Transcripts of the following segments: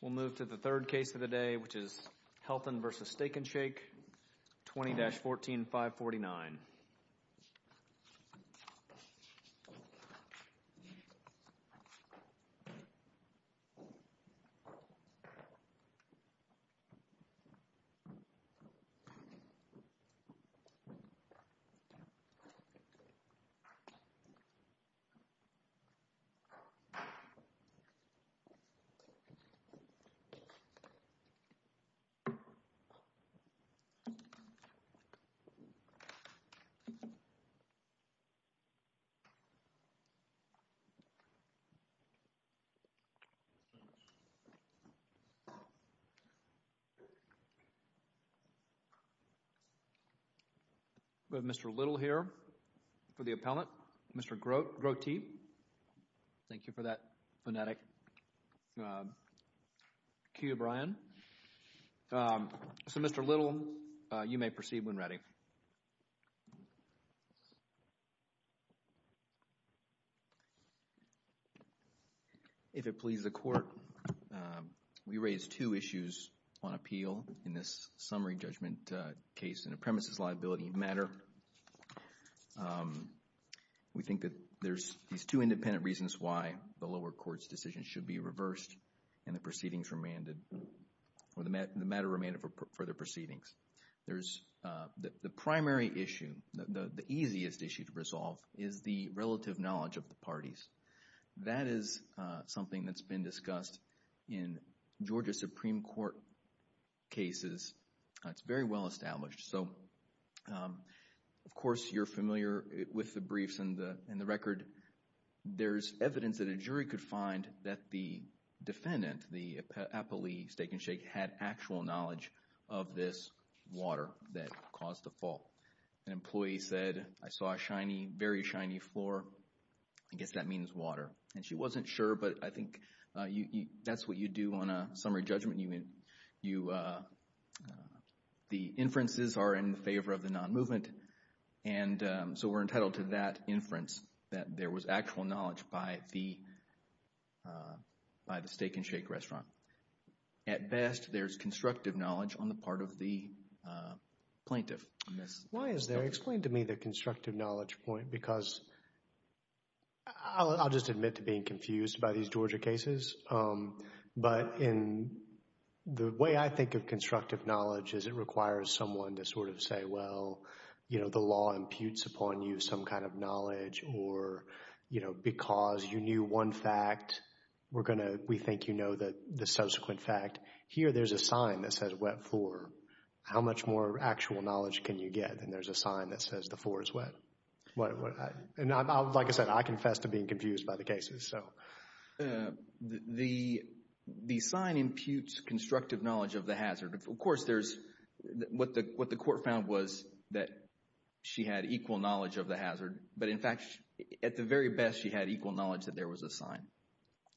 We'll move to the third case of the day, which is Helton v. Steak N Shake, 20-14-549. We have Mr. Little here for the appellant, Mr. Grotti. Thank you for that phonetic cue, Brian. So, Mr. Little, you may proceed when ready. If it pleases the Court, we raise two issues on appeal in this summary judgment case in a premises liability matter. We think that there's these two independent reasons why the lower court's decision should be reversed and the proceedings remanded, or the matter remanded for further proceedings. There's the primary issue, the easiest issue to resolve, is the relative knowledge of the parties. That is something that's been discussed in Georgia Supreme Court cases. It's very well established. So, of course, you're familiar with the briefs and the record. There's evidence that a jury could find that the defendant, the appellee, Steak N Shake, had actual knowledge of this water that caused the fall. An employee said, I saw a shiny, very shiny floor. I guess that means water. And she wasn't sure, but I think that's what you do on a summary judgment. You, the inferences are in favor of the non-movement. And so we're entitled to that inference that there was actual knowledge by the Steak N Shake restaurant. At best, there's constructive knowledge on the part of the plaintiff. Why is there, explain to me the constructive knowledge point, because I'll just admit to being confused by these Georgia cases. But in the way I think of constructive knowledge is it requires someone to sort of say, well, you know, the law imputes upon you some kind of knowledge or, you know, because you knew one fact, we're going to, we think you know the subsequent fact. Here there's a sign that says wet floor. How much more actual knowledge can you get? And there's a sign that says the floor is wet. And like I said, I confess to being confused by the cases. The sign imputes constructive knowledge of the hazard. Of course there's, what the court found was that she had equal knowledge of the hazard. But in fact, at the very best, she had equal knowledge that there was a sign.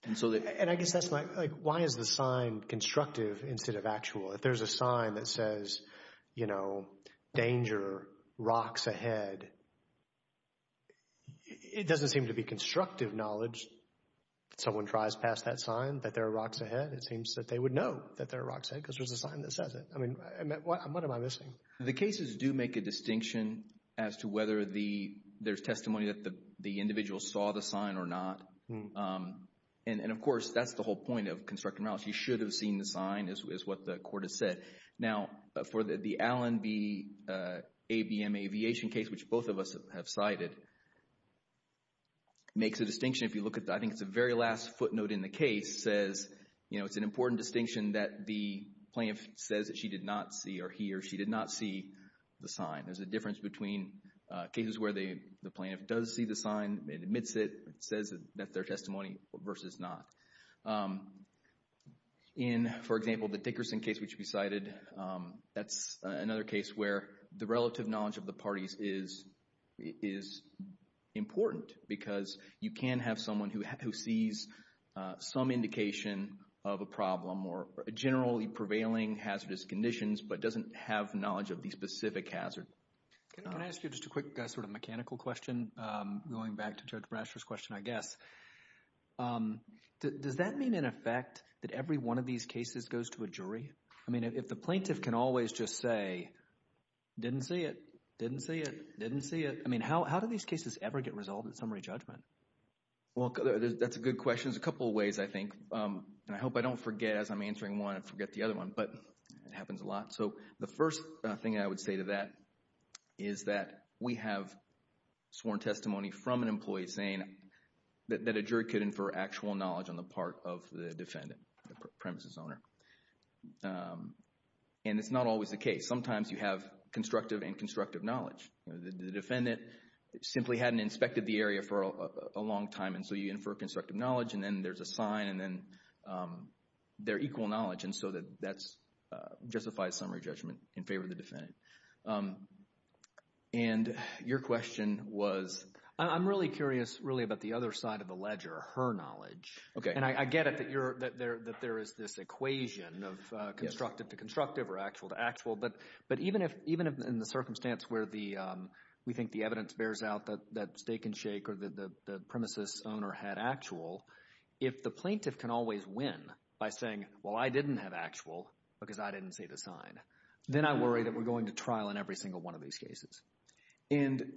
And I guess that's like, why is the sign constructive instead of actual? If there's a sign that says, you know, danger, rocks ahead, it doesn't seem to be constructive knowledge. If someone tries past that sign that there are rocks ahead, it seems that they would know that there are rocks ahead because there's a sign that says it. I mean, what am I missing? The cases do make a distinction as to whether there's testimony that the individual saw the sign or not. And, of course, that's the whole point of constructive knowledge. You should have seen the sign is what the court has said. Now, for the Allen v. ABM Aviation case, which both of us have cited, makes a distinction if you look at the, I think it's the very last footnote in the case, says, you know, it's an important distinction that the plaintiff says that she did not see or he or she did not see the sign. There's a difference between cases where the plaintiff does see the sign, admits it, says that's their testimony versus not. In, for example, the Dickerson case, which we cited, that's another case where the relative knowledge of the parties is important because you can have someone who sees some indication of a problem or generally prevailing hazardous conditions but doesn't have knowledge of the specific hazard. Can I ask you just a quick sort of mechanical question going back to Judge Brasher's question, I guess? Does that mean, in effect, that every one of these cases goes to a jury? I mean, if the plaintiff can always just say, didn't see it, didn't see it, didn't see it. I mean, how do these cases ever get resolved in summary judgment? Well, that's a good question. There's a couple of ways, I think, and I hope I don't forget as I'm answering one and forget the other one. But it happens a lot. So the first thing I would say to that is that we have sworn testimony from an employee saying that a jury could infer actual knowledge on the part of the defendant, the premises owner. And it's not always the case. Sometimes you have constructive and constructive knowledge. The defendant simply hadn't inspected the area for a long time, and so you infer constructive knowledge, and then there's a sign, and then they're equal knowledge. And so that justifies summary judgment in favor of the defendant. And your question was? I'm really curious, really, about the other side of the ledger, her knowledge. Okay. And I get it that there is this equation of constructive to constructive or actual to actual, but even in the circumstance where we think the evidence bears out that stake and shake or the premises owner had actual, if the plaintiff can always win by saying, well, I didn't have actual because I didn't say the sign, then I worry that we're going to trial in every single one of these cases. And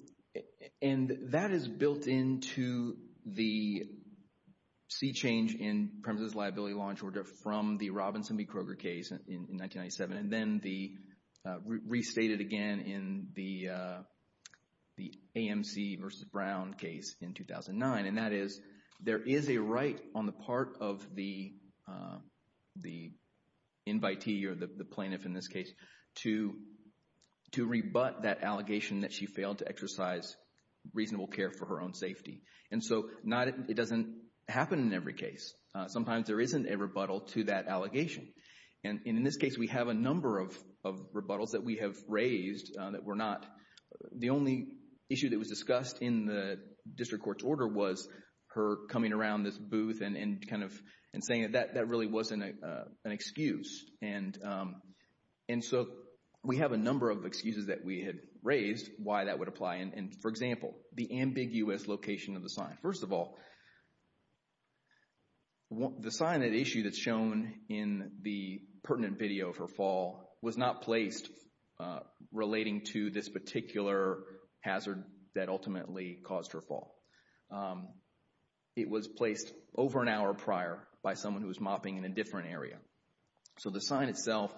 that is built into the C change in premises liability launch order from the Robinson v. Kroger case in 1997 and then restated again in the AMC v. Brown case in 2009. And that is there is a right on the part of the invitee or the plaintiff in this case to rebut that allegation that she failed to exercise reasonable care for her own safety. And so it doesn't happen in every case. Sometimes there isn't a rebuttal to that allegation. And in this case, we have a number of rebuttals that we have raised that were not. The only issue that was discussed in the district court's order was her coming around this booth and kind of saying that that really wasn't an excuse. And so we have a number of excuses that we had raised why that would apply. And, for example, the ambiguous location of the sign. First of all, the sign at issue that's shown in the pertinent video of her fall was not placed relating to this particular hazard that ultimately caused her fall. It was placed over an hour prior by someone who was mopping in a different area. So the sign itself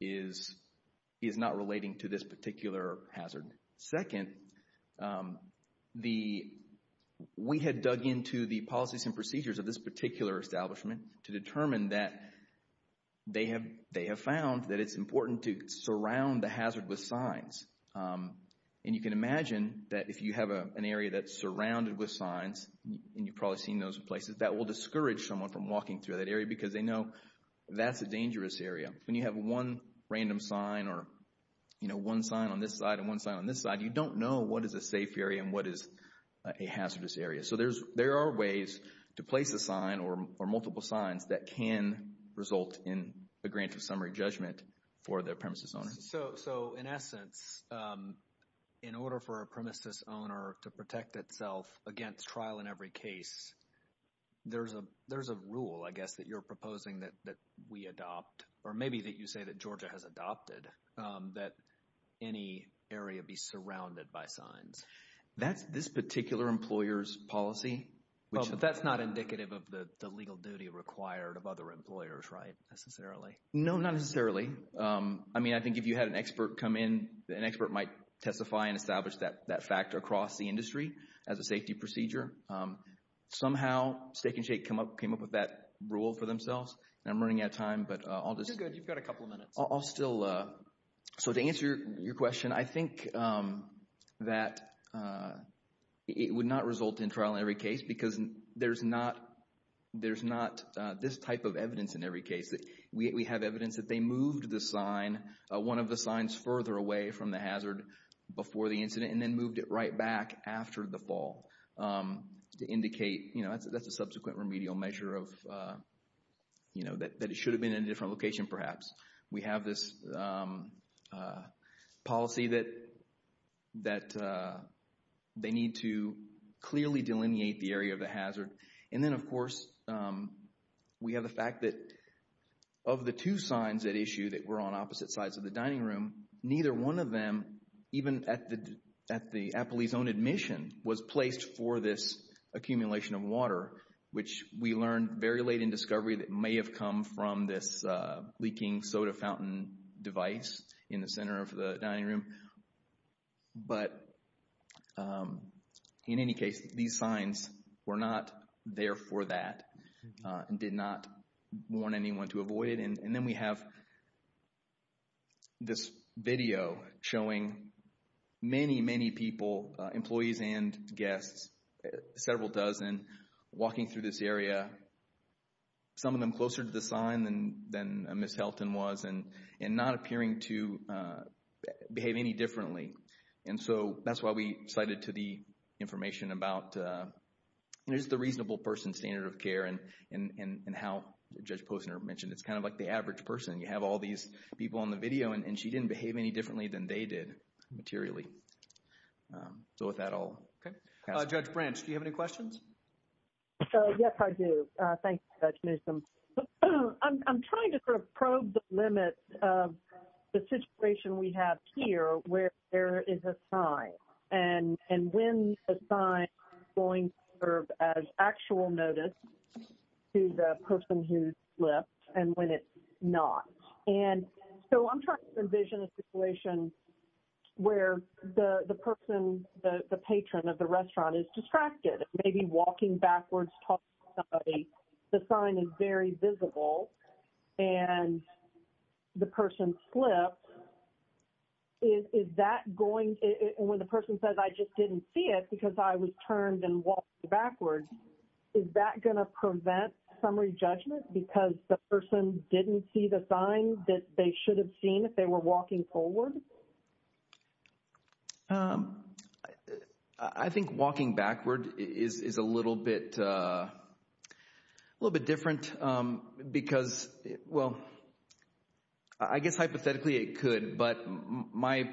is not relating to this particular hazard. Second, we had dug into the policies and procedures of this particular establishment to determine that they have found that it's important to surround the hazard with signs. And you can imagine that if you have an area that's surrounded with signs, and you've probably seen those in places, that will discourage someone from walking through that area because they know that's a dangerous area. When you have one random sign or one sign on this side and one sign on this side, you don't know what is a safe area and what is a hazardous area. So there are ways to place a sign or multiple signs that can result in a grant of summary judgment for the premises owner. So, in essence, in order for a premises owner to protect itself against trial in every case, there's a rule, I guess, that you're proposing that we adopt, or maybe that you say that Georgia has adopted, that any area be surrounded by signs. That's this particular employer's policy. But that's not indicative of the legal duty required of other employers, right, necessarily? No, not necessarily. I mean, I think if you had an expert come in, an expert might testify and establish that factor across the industry as a safety procedure. Somehow, Steak and Shake came up with that rule for themselves. And I'm running out of time, but I'll just... You're good. You've got a couple of minutes. I'll still... So to answer your question, I think that it would not result in trial in every case because there's not this type of evidence in every case. We have evidence that they moved the sign, one of the signs further away from the hazard before the incident, and then moved it right back after the fall to indicate... That's a subsequent remedial measure of... That it should have been in a different location, perhaps. We have this policy that they need to clearly delineate the area of the hazard. And then, of course, we have the fact that of the two signs at issue that were on opposite sides of the dining room, neither one of them, even at the appellee's own admission, was placed for this accumulation of water, which we learned very late in discovery that may have come from this leaking soda fountain device in the center of the dining room. But in any case, these signs were not there for that and did not want anyone to avoid it. And then we have this video showing many, many people, employees and guests, several dozen, walking through this area, some of them closer to the sign than Ms. Helton was and not appearing to behave any differently. And so that's why we cited to the information about is the reasonable person standard of care and how Judge Posner mentioned it's kind of like the average person. You have all these people on the video and she didn't behave any differently than they did materially. So with that, I'll pass it on. Judge Branch, do you have any questions? Yes, I do. Thanks, Judge Newsom. I'm trying to sort of probe the limit of the situation we have here where there is a sign and when the sign is going to serve as actual notice to the person who slipped and when it's not. And so I'm trying to envision a situation where the person, the patron of the restaurant is distracted, maybe walking backwards to talk to somebody. The sign is very visible and the person slipped. Is that going to, when the person says, I just didn't see it because I was turned and walked backwards, is that going to prevent summary judgment because the person didn't see the sign that they should have seen if they were walking forward? I think walking backward is a little bit different because, well, I guess hypothetically it could, but my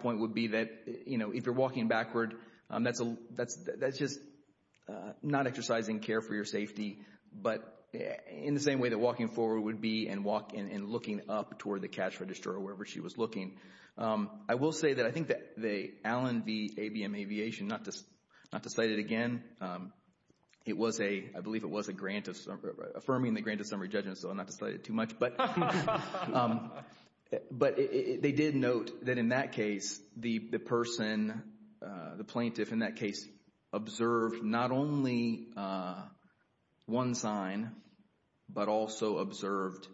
point would be that, you know, if you're walking backward, that's just not exercising care for your safety, but in the same way that walking forward would be and looking up toward the cash register or wherever she was looking. I will say that I think that the Allen v. ABM Aviation, not to cite it again, it was a, I believe it was a grant of, affirming the grant of summary judgment so I'm not to cite it too much, but they did note that in that case the person, the plaintiff in that case, observed not only one sign but also observed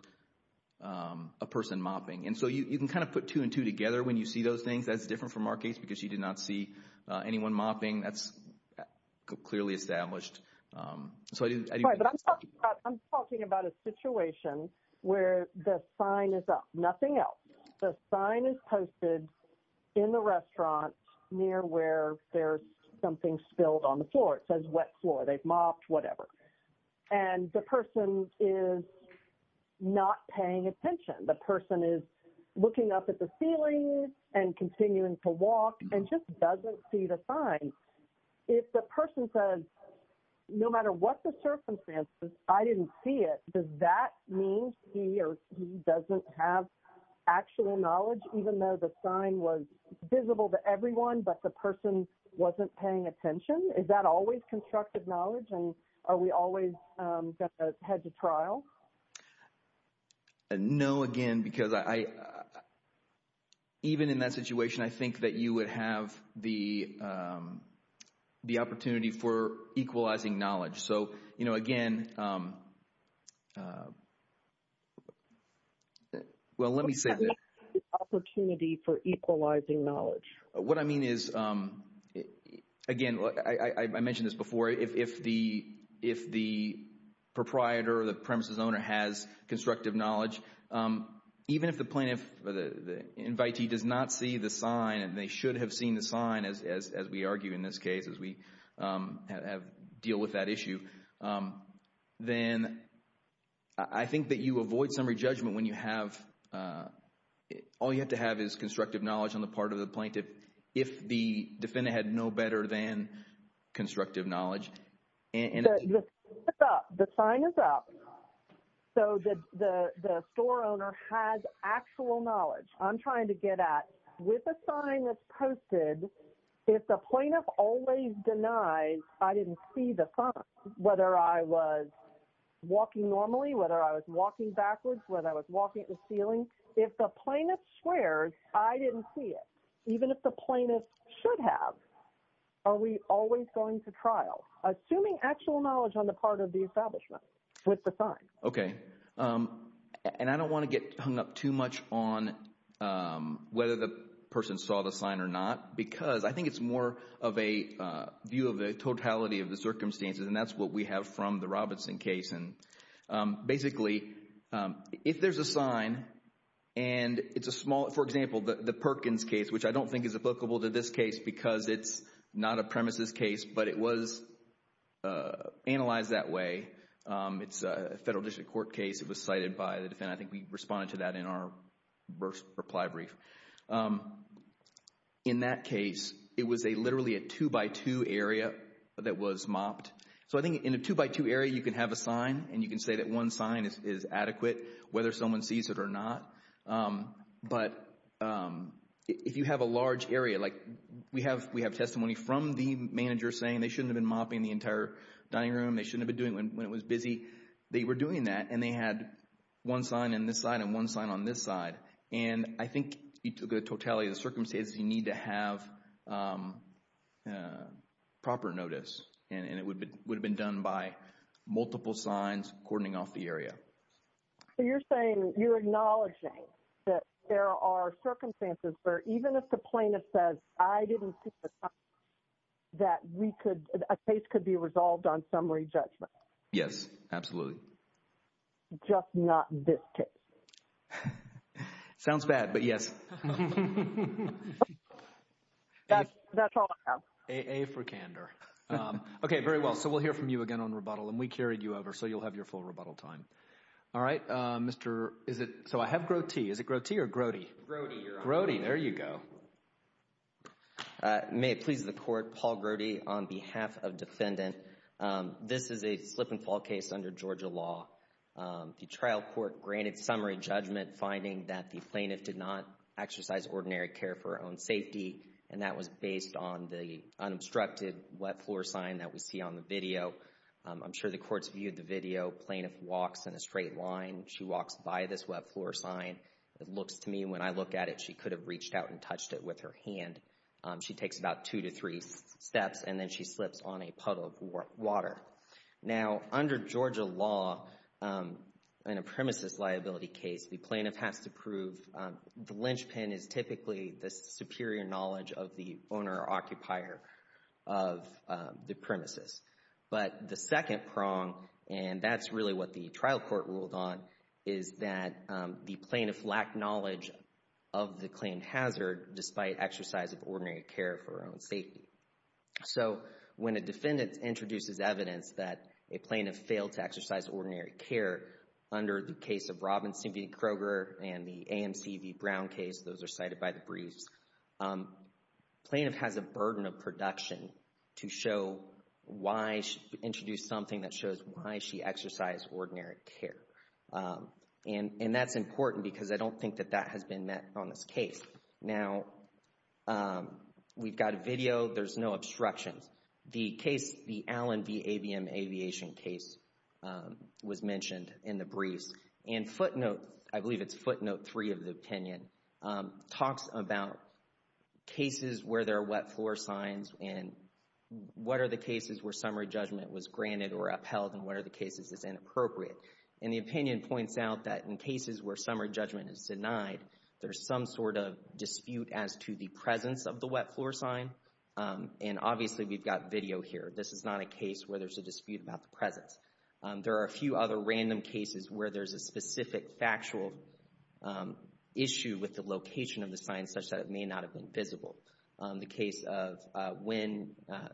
a person mopping. And so you can kind of put two and two together when you see those things. That's different from our case because she did not see anyone mopping. That's clearly established. I'm talking about a situation where the sign is up, nothing else. The sign is posted in the restaurant near where there's something spilled on the floor. It says wet floor. They've mopped, whatever. And the person is not paying attention. The person is looking up at the ceiling and continuing to walk and just doesn't see the sign. If the person says no matter what the circumstances, I didn't see it, does that mean he or she doesn't have actual knowledge even though the sign was visible to everyone but the person wasn't paying attention? Is that always constructive knowledge? And are we always going to head to trial? No, again, because I, even in that situation, I think that you would have the opportunity for equalizing knowledge. So, you know, again, well, let me say this. What does that mean, the opportunity for equalizing knowledge? What I mean is, again, I mentioned this before. If the proprietor or the premises owner has constructive knowledge, even if the plaintiff or the invitee does not see the sign and they should have seen the sign, as we argue in this case, as we deal with that issue, then I think that you avoid summary judgment when you have, all you have to have is constructive knowledge on the part of the plaintiff if the defendant had no better than constructive knowledge. The sign is up. So the store owner has actual knowledge. I'm trying to get at, with the sign that's posted, if the plaintiff always denies I didn't see the sign, whether I was walking normally, whether I was walking backwards, whether I was walking at the ceiling, if the plaintiff swears I didn't see it, even if the plaintiff should have, are we always going to trial? Assuming actual knowledge on the part of the establishment with the sign. Okay. And I don't want to get hung up too much on whether the person saw the sign or not, because I think it's more of a view of the totality of the circumstances, and that's what we have from the Robinson case. Basically, if there's a sign and it's a small, for example, the Perkins case, which I don't think is applicable to this case because it's not a premises case, but it was analyzed that way. It's a federal district court case. It was cited by the defendant. I think we responded to that in our reply brief. In that case, it was literally a two-by-two area that was mopped. So I think in a two-by-two area you can have a sign, and you can say that one sign is adequate whether someone sees it or not. But if you have a large area, like we have testimony from the manager saying they shouldn't have been mopping the entire dining room, they shouldn't have been doing it when it was busy. They were doing that, and they had one sign on this side and one sign on this side. And I think the totality of the circumstances, you need to have proper notice, and it would have been done by multiple signs cordoning off the area. So you're saying you're acknowledging that there are circumstances where even if the plaintiff says, I didn't see the time that a case could be resolved on summary judgment. Yes, absolutely. Just not this case. Sounds bad, but yes. That's all I have. A for candor. Okay, very well. So we'll hear from you again on rebuttal, and we carried you over, so you'll have your full rebuttal time. All right. So I have Grote. Is it Grote or Grote? Grote. Grote, there you go. May it please the Court, Paul Grote on behalf of defendant. This is a slip and fall case under Georgia law. The trial court granted summary judgment finding that the plaintiff did not exercise ordinary care for her own safety, and that was based on the unobstructed wet floor sign that we see on the video. I'm sure the Court's viewed the video. Plaintiff walks in a straight line. She walks by this wet floor sign. It looks to me, when I look at it, she could have reached out and touched it with her hand. She takes about two to three steps, and then she slips on a puddle of water. Now, under Georgia law, in a premises liability case, the plaintiff has to prove the linchpin is typically the superior knowledge of the owner or occupier of the premises. But the second prong, and that's really what the trial court ruled on, is that the plaintiff lacked knowledge of the claim hazard despite exercise of ordinary care for her own safety. So when a defendant introduces evidence that a plaintiff failed to exercise ordinary care under the case of Robinson v. Kroger and the AMC v. Brown case, those are cited by the briefs, plaintiff has a burden of production to show why she introduced something that shows why she exercised ordinary care. And that's important because I don't think that that has been met on this case. Now, we've got a video. There's no obstructions. The case, the Allen v. ABM Aviation case, was mentioned in the briefs. And footnote, I believe it's footnote three of the opinion, talks about cases where there are wet floor signs and what are the cases where summary judgment was granted or upheld and what are the cases that's inappropriate. And the opinion points out that in cases where summary judgment is denied, there's some sort of dispute as to the presence of the wet floor sign. And obviously we've got video here. This is not a case where there's a dispute about the presence. There are a few other random cases where there's a specific factual issue with the location of the sign such that it may not have been visible. The case of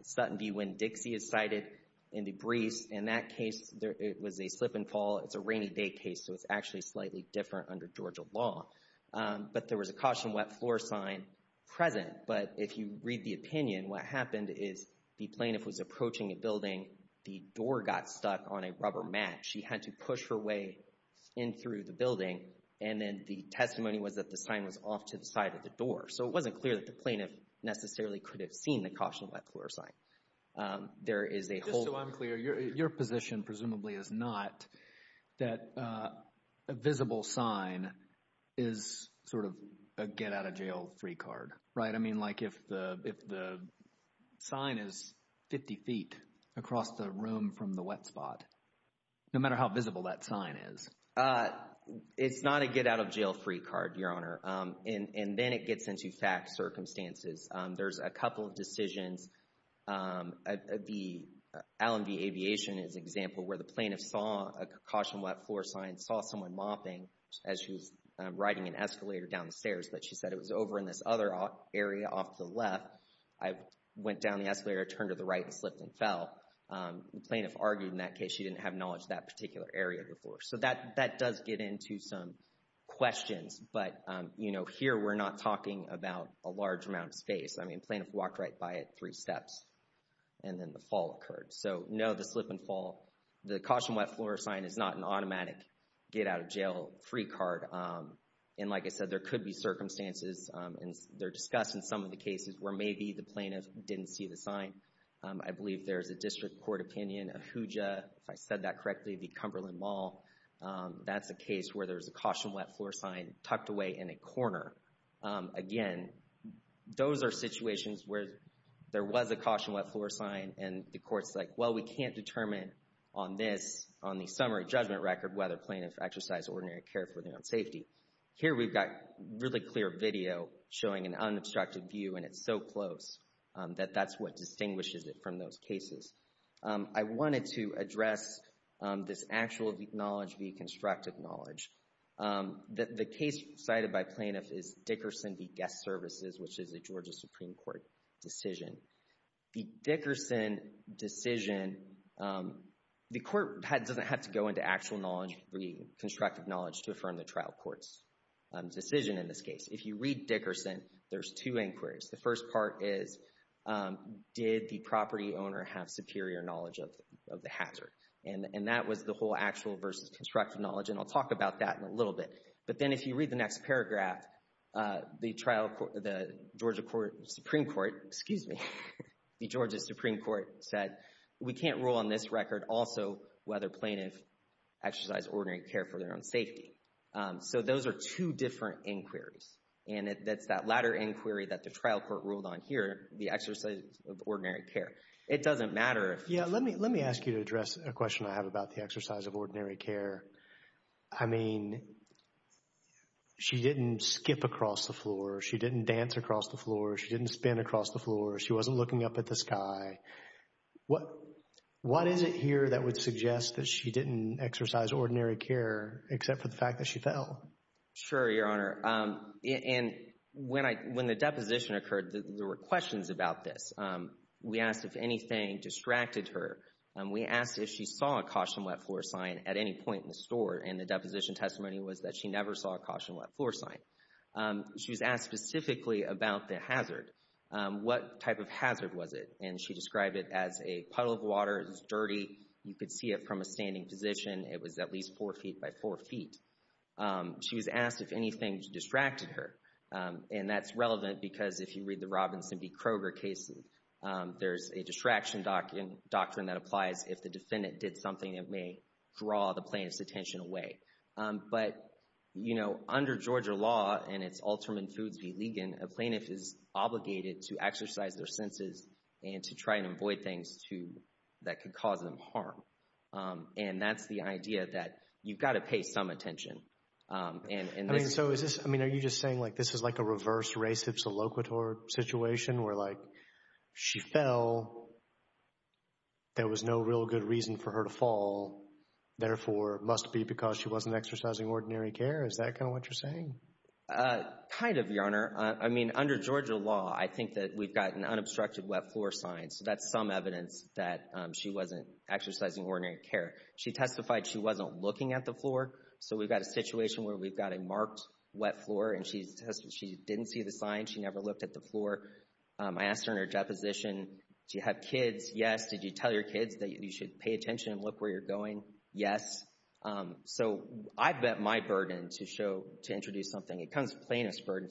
Sutton v. Winn-Dixie is cited in the briefs. In that case, it was a slip and fall. It's a rainy day case, so it's actually slightly different under Georgia law. But there was a caution wet floor sign present. But if you read the opinion, what happened is the plaintiff was approaching a building. The door got stuck on a rubber mat. She had to push her way in through the building. And then the testimony was that the sign was off to the side of the door. So it wasn't clear that the plaintiff necessarily could have seen the caution wet floor sign. Just so I'm clear, your position presumably is not that a visible sign is sort of a get-out-of-jail-free card, right? I mean like if the sign is 50 feet across the room from the wet spot, no matter how visible that sign is. It's not a get-out-of-jail-free card, Your Honor. And then it gets into fact circumstances. There's a couple of decisions. The Allen v. Aviation is an example where the plaintiff saw a caution wet floor sign, saw someone mopping as she was riding an escalator down the stairs. But she said it was over in this other area off to the left. I went down the escalator, turned to the right, and slipped and fell. The plaintiff argued in that case she didn't have knowledge of that particular area before. So that does get into some questions. But, you know, here we're not talking about a large amount of space. I mean the plaintiff walked right by it three steps, and then the fall occurred. So no, the slip and fall. The caution wet floor sign is not an automatic get-out-of-jail-free card. And like I said, there could be circumstances, and they're discussed in some of the cases, where maybe the plaintiff didn't see the sign. I believe there's a district court opinion, Ahuja, if I said that correctly, the Cumberland Mall. That's a case where there's a caution wet floor sign tucked away in a corner. Again, those are situations where there was a caution wet floor sign, and the court's like, well, we can't determine on this, on the summary judgment record, whether a plaintiff exercised ordinary care for their own safety. Here we've got really clear video showing an unobstructed view, and it's so close that that's what distinguishes it from those cases. I wanted to address this actual knowledge via constructive knowledge. The case cited by plaintiffs is Dickerson v. Guest Services, which is a Georgia Supreme Court decision. The Dickerson decision, the court doesn't have to go into actual knowledge via constructive knowledge to affirm the trial court's decision in this case. If you read Dickerson, there's two inquiries. The first part is, did the property owner have superior knowledge of the hazard? And that was the whole actual versus constructive knowledge, and I'll talk about that in a little bit. But then if you read the next paragraph, the Georgia Supreme Court said, we can't rule on this record also whether plaintiffs exercised ordinary care for their own safety. So those are two different inquiries, and that's that latter inquiry that the trial court ruled on here, the exercise of ordinary care. It doesn't matter if— Yeah, let me ask you to address a question I have about the exercise of ordinary care. I mean, she didn't skip across the floor. She didn't dance across the floor. She didn't spin across the floor. She wasn't looking up at the sky. What is it here that would suggest that she didn't exercise ordinary care except for the fact that she fell? Sure, Your Honor. And when the deposition occurred, there were questions about this. We asked if anything distracted her. We asked if she saw a caution wet floor sign at any point in the store, and the deposition testimony was that she never saw a caution wet floor sign. She was asked specifically about the hazard. What type of hazard was it? And she described it as a puddle of water. It was dirty. You could see it from a standing position. It was at least four feet by four feet. She was asked if anything distracted her, and that's relevant because if you read the Robinson v. Kroger case, there's a distraction doctrine that applies if the defendant did something that may draw the plaintiff's attention away. But, you know, under Georgia law, and it's alterman foods v. Ligon, a plaintiff is obligated to exercise their senses and to try and avoid things that could cause them harm. And that's the idea that you've got to pay some attention. I mean, are you just saying, like, this is like a reverse race of soloquitur situation where, like, she fell. There was no real good reason for her to fall. Therefore, it must be because she wasn't exercising ordinary care. Is that kind of what you're saying? Kind of, Your Honor. I mean, under Georgia law, I think that we've got an unobstructed wet floor sign. So that's some evidence that she wasn't exercising ordinary care. She testified she wasn't looking at the floor. So we've got a situation where we've got a marked wet floor, and she didn't see the sign. She never looked at the floor. I asked her in her deposition, do you have kids? Yes. Did you tell your kids that you should pay attention and look where you're going? Yes. So I've met my burden to show, to introduce something. It comes from plaintiff's burden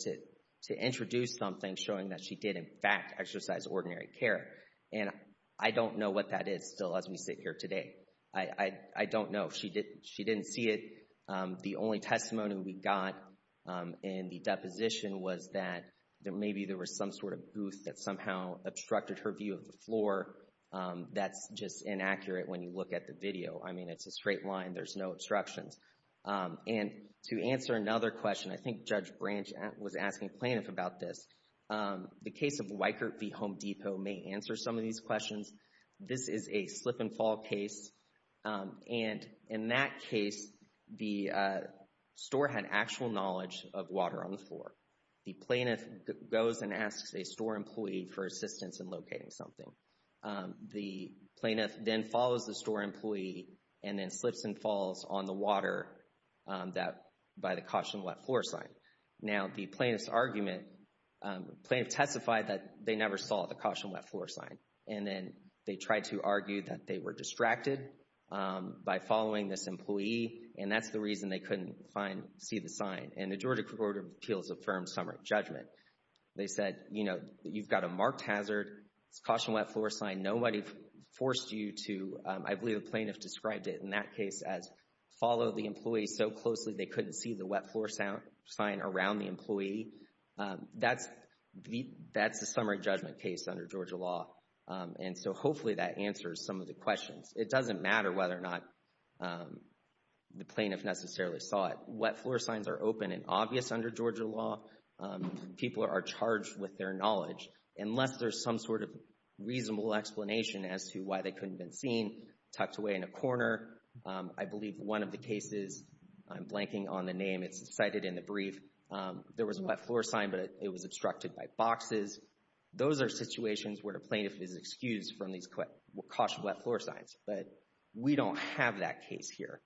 to introduce something showing that she did, in fact, exercise ordinary care. And I don't know what that is still as we sit here today. I don't know. She didn't see it. The only testimony we got in the deposition was that maybe there was some sort of booth that somehow obstructed her view of the floor. That's just inaccurate when you look at the video. I mean, it's a straight line. There's no obstructions. And to answer another question, I think Judge Branch was asking plaintiff about this. The case of Weikert v. Home Depot may answer some of these questions. This is a slip and fall case. And in that case, the store had actual knowledge of water on the floor. The plaintiff goes and asks a store employee for assistance in locating something. The plaintiff then follows the store employee and then slips and falls on the water by the caution wet floor sign. Now, the plaintiff's argument, plaintiff testified that they never saw the caution wet floor sign. And then they tried to argue that they were distracted by following this employee. And that's the reason they couldn't see the sign. And the Georgia Court of Appeals affirmed summary judgment. They said, you know, you've got a marked hazard. It's a caution wet floor sign. Nobody forced you to, I believe the plaintiff described it in that case as follow the employee so closely they couldn't see the wet floor sign around the employee. That's the summary judgment case under Georgia law. And so hopefully that answers some of the questions. It doesn't matter whether or not the plaintiff necessarily saw it. Wet floor signs are open and obvious under Georgia law. People are charged with their knowledge. Unless there's some sort of reasonable explanation as to why they couldn't have been seen, tucked away in a corner. I believe one of the cases, I'm blanking on the name, it's cited in the brief. There was a wet floor sign, but it was obstructed by boxes. Those are situations where a plaintiff is excused from these caution wet floor signs. But we don't have that case here.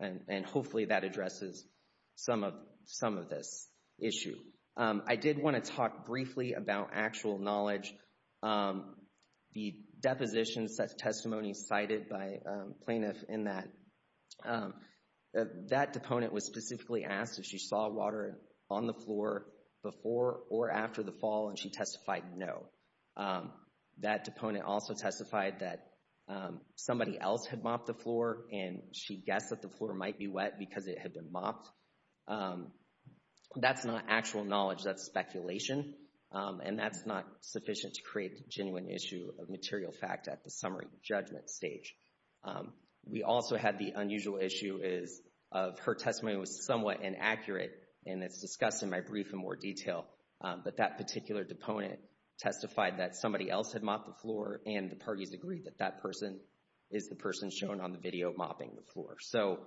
And hopefully that addresses some of this issue. I did want to talk briefly about actual knowledge. The deposition testimony cited by plaintiff in that, that deponent was specifically asked if she saw water on the floor before or after the fall and she testified no. That deponent also testified that somebody else had mopped the floor and she guessed that the floor might be wet because it had been mopped. That's not actual knowledge, that's speculation. And that's not sufficient to create a genuine issue of material fact at the summary judgment stage. We also had the unusual issue is of her testimony was somewhat inaccurate and it's discussed in my brief in more detail. But that particular deponent testified that somebody else had mopped the floor and the parties agreed that that person is the person shown on the video mopping the floor. So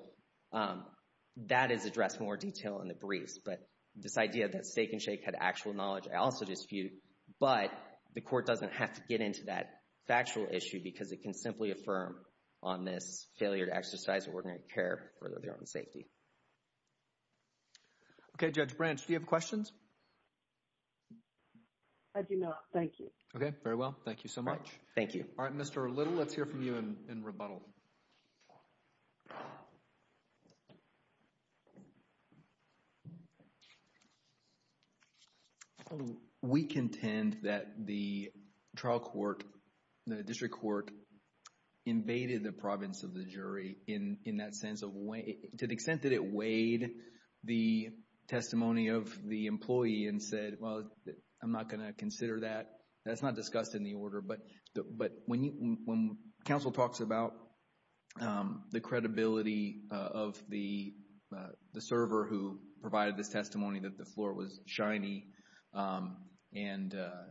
that is addressed in more detail in the briefs. But this idea that Steak and Shake had actual knowledge, I also dispute. But the court doesn't have to get into that factual issue because it can simply affirm on this failure to exercise ordinary care for their own safety. Okay, Judge Branch, do you have questions? I do not. Thank you. Okay, very well. Thank you so much. Thank you. All right, Mr. Little, let's hear from you in rebuttal. We contend that the trial court, the district court invaded the province of the jury in that sense of way, to the extent that it weighed the testimony of the employee and said, well, I'm not going to consider that. That's not discussed in the order. But when counsel talks about the credibility of the server who provided this testimony that the floor was shiny and to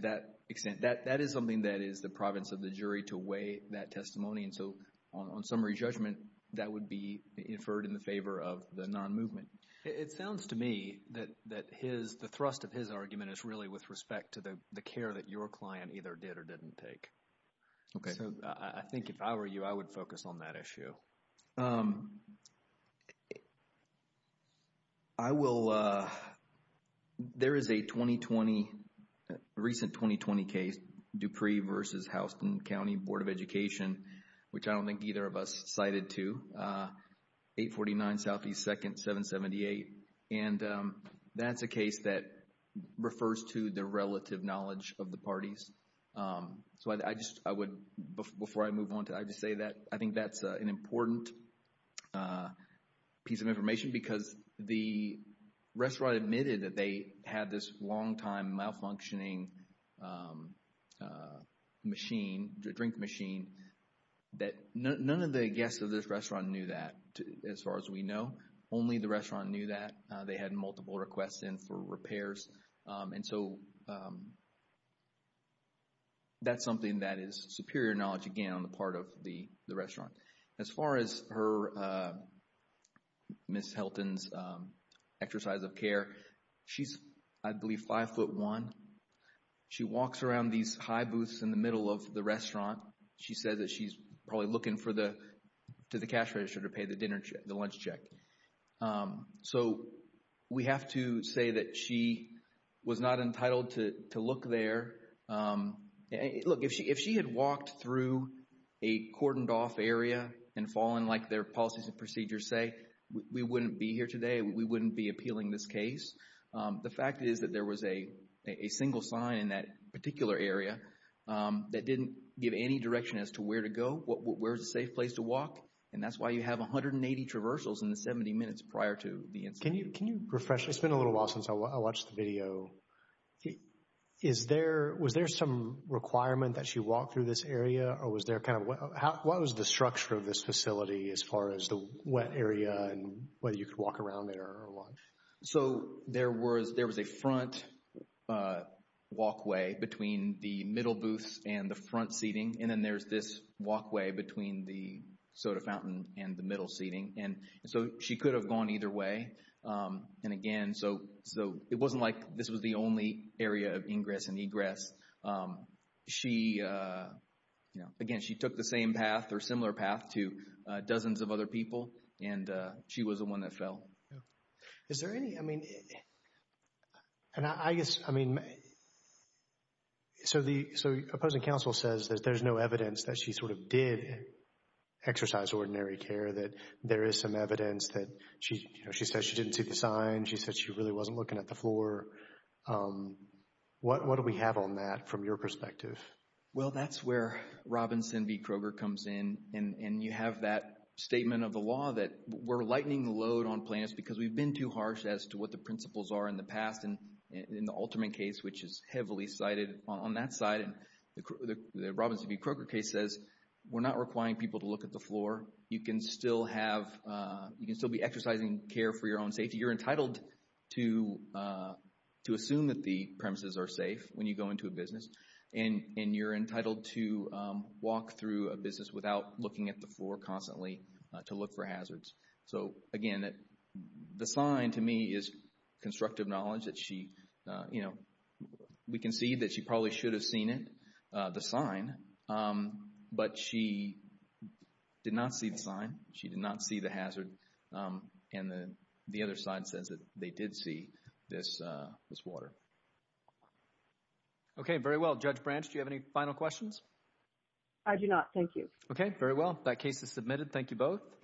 that extent, that is something that is the province of the jury to weigh that testimony. And so on summary judgment, that would be inferred in the favor of the non-movement. It sounds to me that the thrust of his argument is really with respect to the care that your client either did or didn't take. Okay. So I think if I were you, I would focus on that issue. I will. There is a 2020, recent 2020 case, Dupree versus Houston County Board of Education, which I don't think either of us cited to. 849 Southeast 2nd, 778. And that's a case that refers to the relative knowledge of the parties. So I just, I would, before I move on, I would just say that I think that's an important piece of information because the restaurant admitted that they had this long-time malfunctioning machine, a drink machine, that none of the guests of this restaurant knew that, as far as we know. Only the restaurant knew that. They had multiple requests in for repairs. And so that's something that is superior knowledge, again, on the part of the restaurant. As far as her, Ms. Helton's exercise of care, she's, I believe, 5'1". She walks around these high booths in the middle of the restaurant. She says that she's probably looking for the, to the cash register to pay the dinner check, the lunch check. So we have to say that she was not entitled to look there. Look, if she had walked through a cordoned-off area and fallen, like their policies and procedures say, we wouldn't be here today. We wouldn't be appealing this case. The fact is that there was a single sign in that particular area that didn't give any direction as to where to go, where is a safe place to walk. And that's why you have 180 traversals in the 70 minutes prior to the incident. Can you refresh? It's been a little while since I watched the video. Is there, was there some requirement that she walk through this area, or was there kind of, what was the structure of this facility as far as the wet area and whether you could walk around there or what? So there was, there was a front walkway between the middle booths and the front seating. And then there's this walkway between the soda fountain and the middle seating. And so she could have gone either way. And again, so, so it wasn't like this was the only area of ingress and egress. She, you know, again, she took the same path or similar path to dozens of other people, and she was the one that fell. Is there any, I mean, and I guess, I mean, so the, so opposing counsel says that there's no evidence that she sort of did exercise ordinary care, that there is some evidence that she, you know, she said she didn't see the sign. She said she really wasn't looking at the floor. What, what do we have on that from your perspective? Well, that's where Robinson v. Kroger comes in, and you have that statement of the law that we're lightening the load on plaintiffs because we've been too harsh as to what the principles are in the past. And in the Alterman case, which is heavily cited on that side, the Robinson v. Kroger case says we're not requiring people to look at the floor. You can still have, you can still be exercising care for your own safety. You're entitled to, to assume that the premises are safe when you go into a business. And, and you're entitled to walk through a business without looking at the floor constantly to look for hazards. So, again, the sign, to me, is constructive knowledge that she, you know, we can see that she probably should have seen it, the sign, but she did not see the sign. She did not see the hazard, and the other side says that they did see this, this water. Okay, very well. Judge Branch, do you have any final questions? I do not. Thank you. Okay, very well. That case is submitted. Thank you both.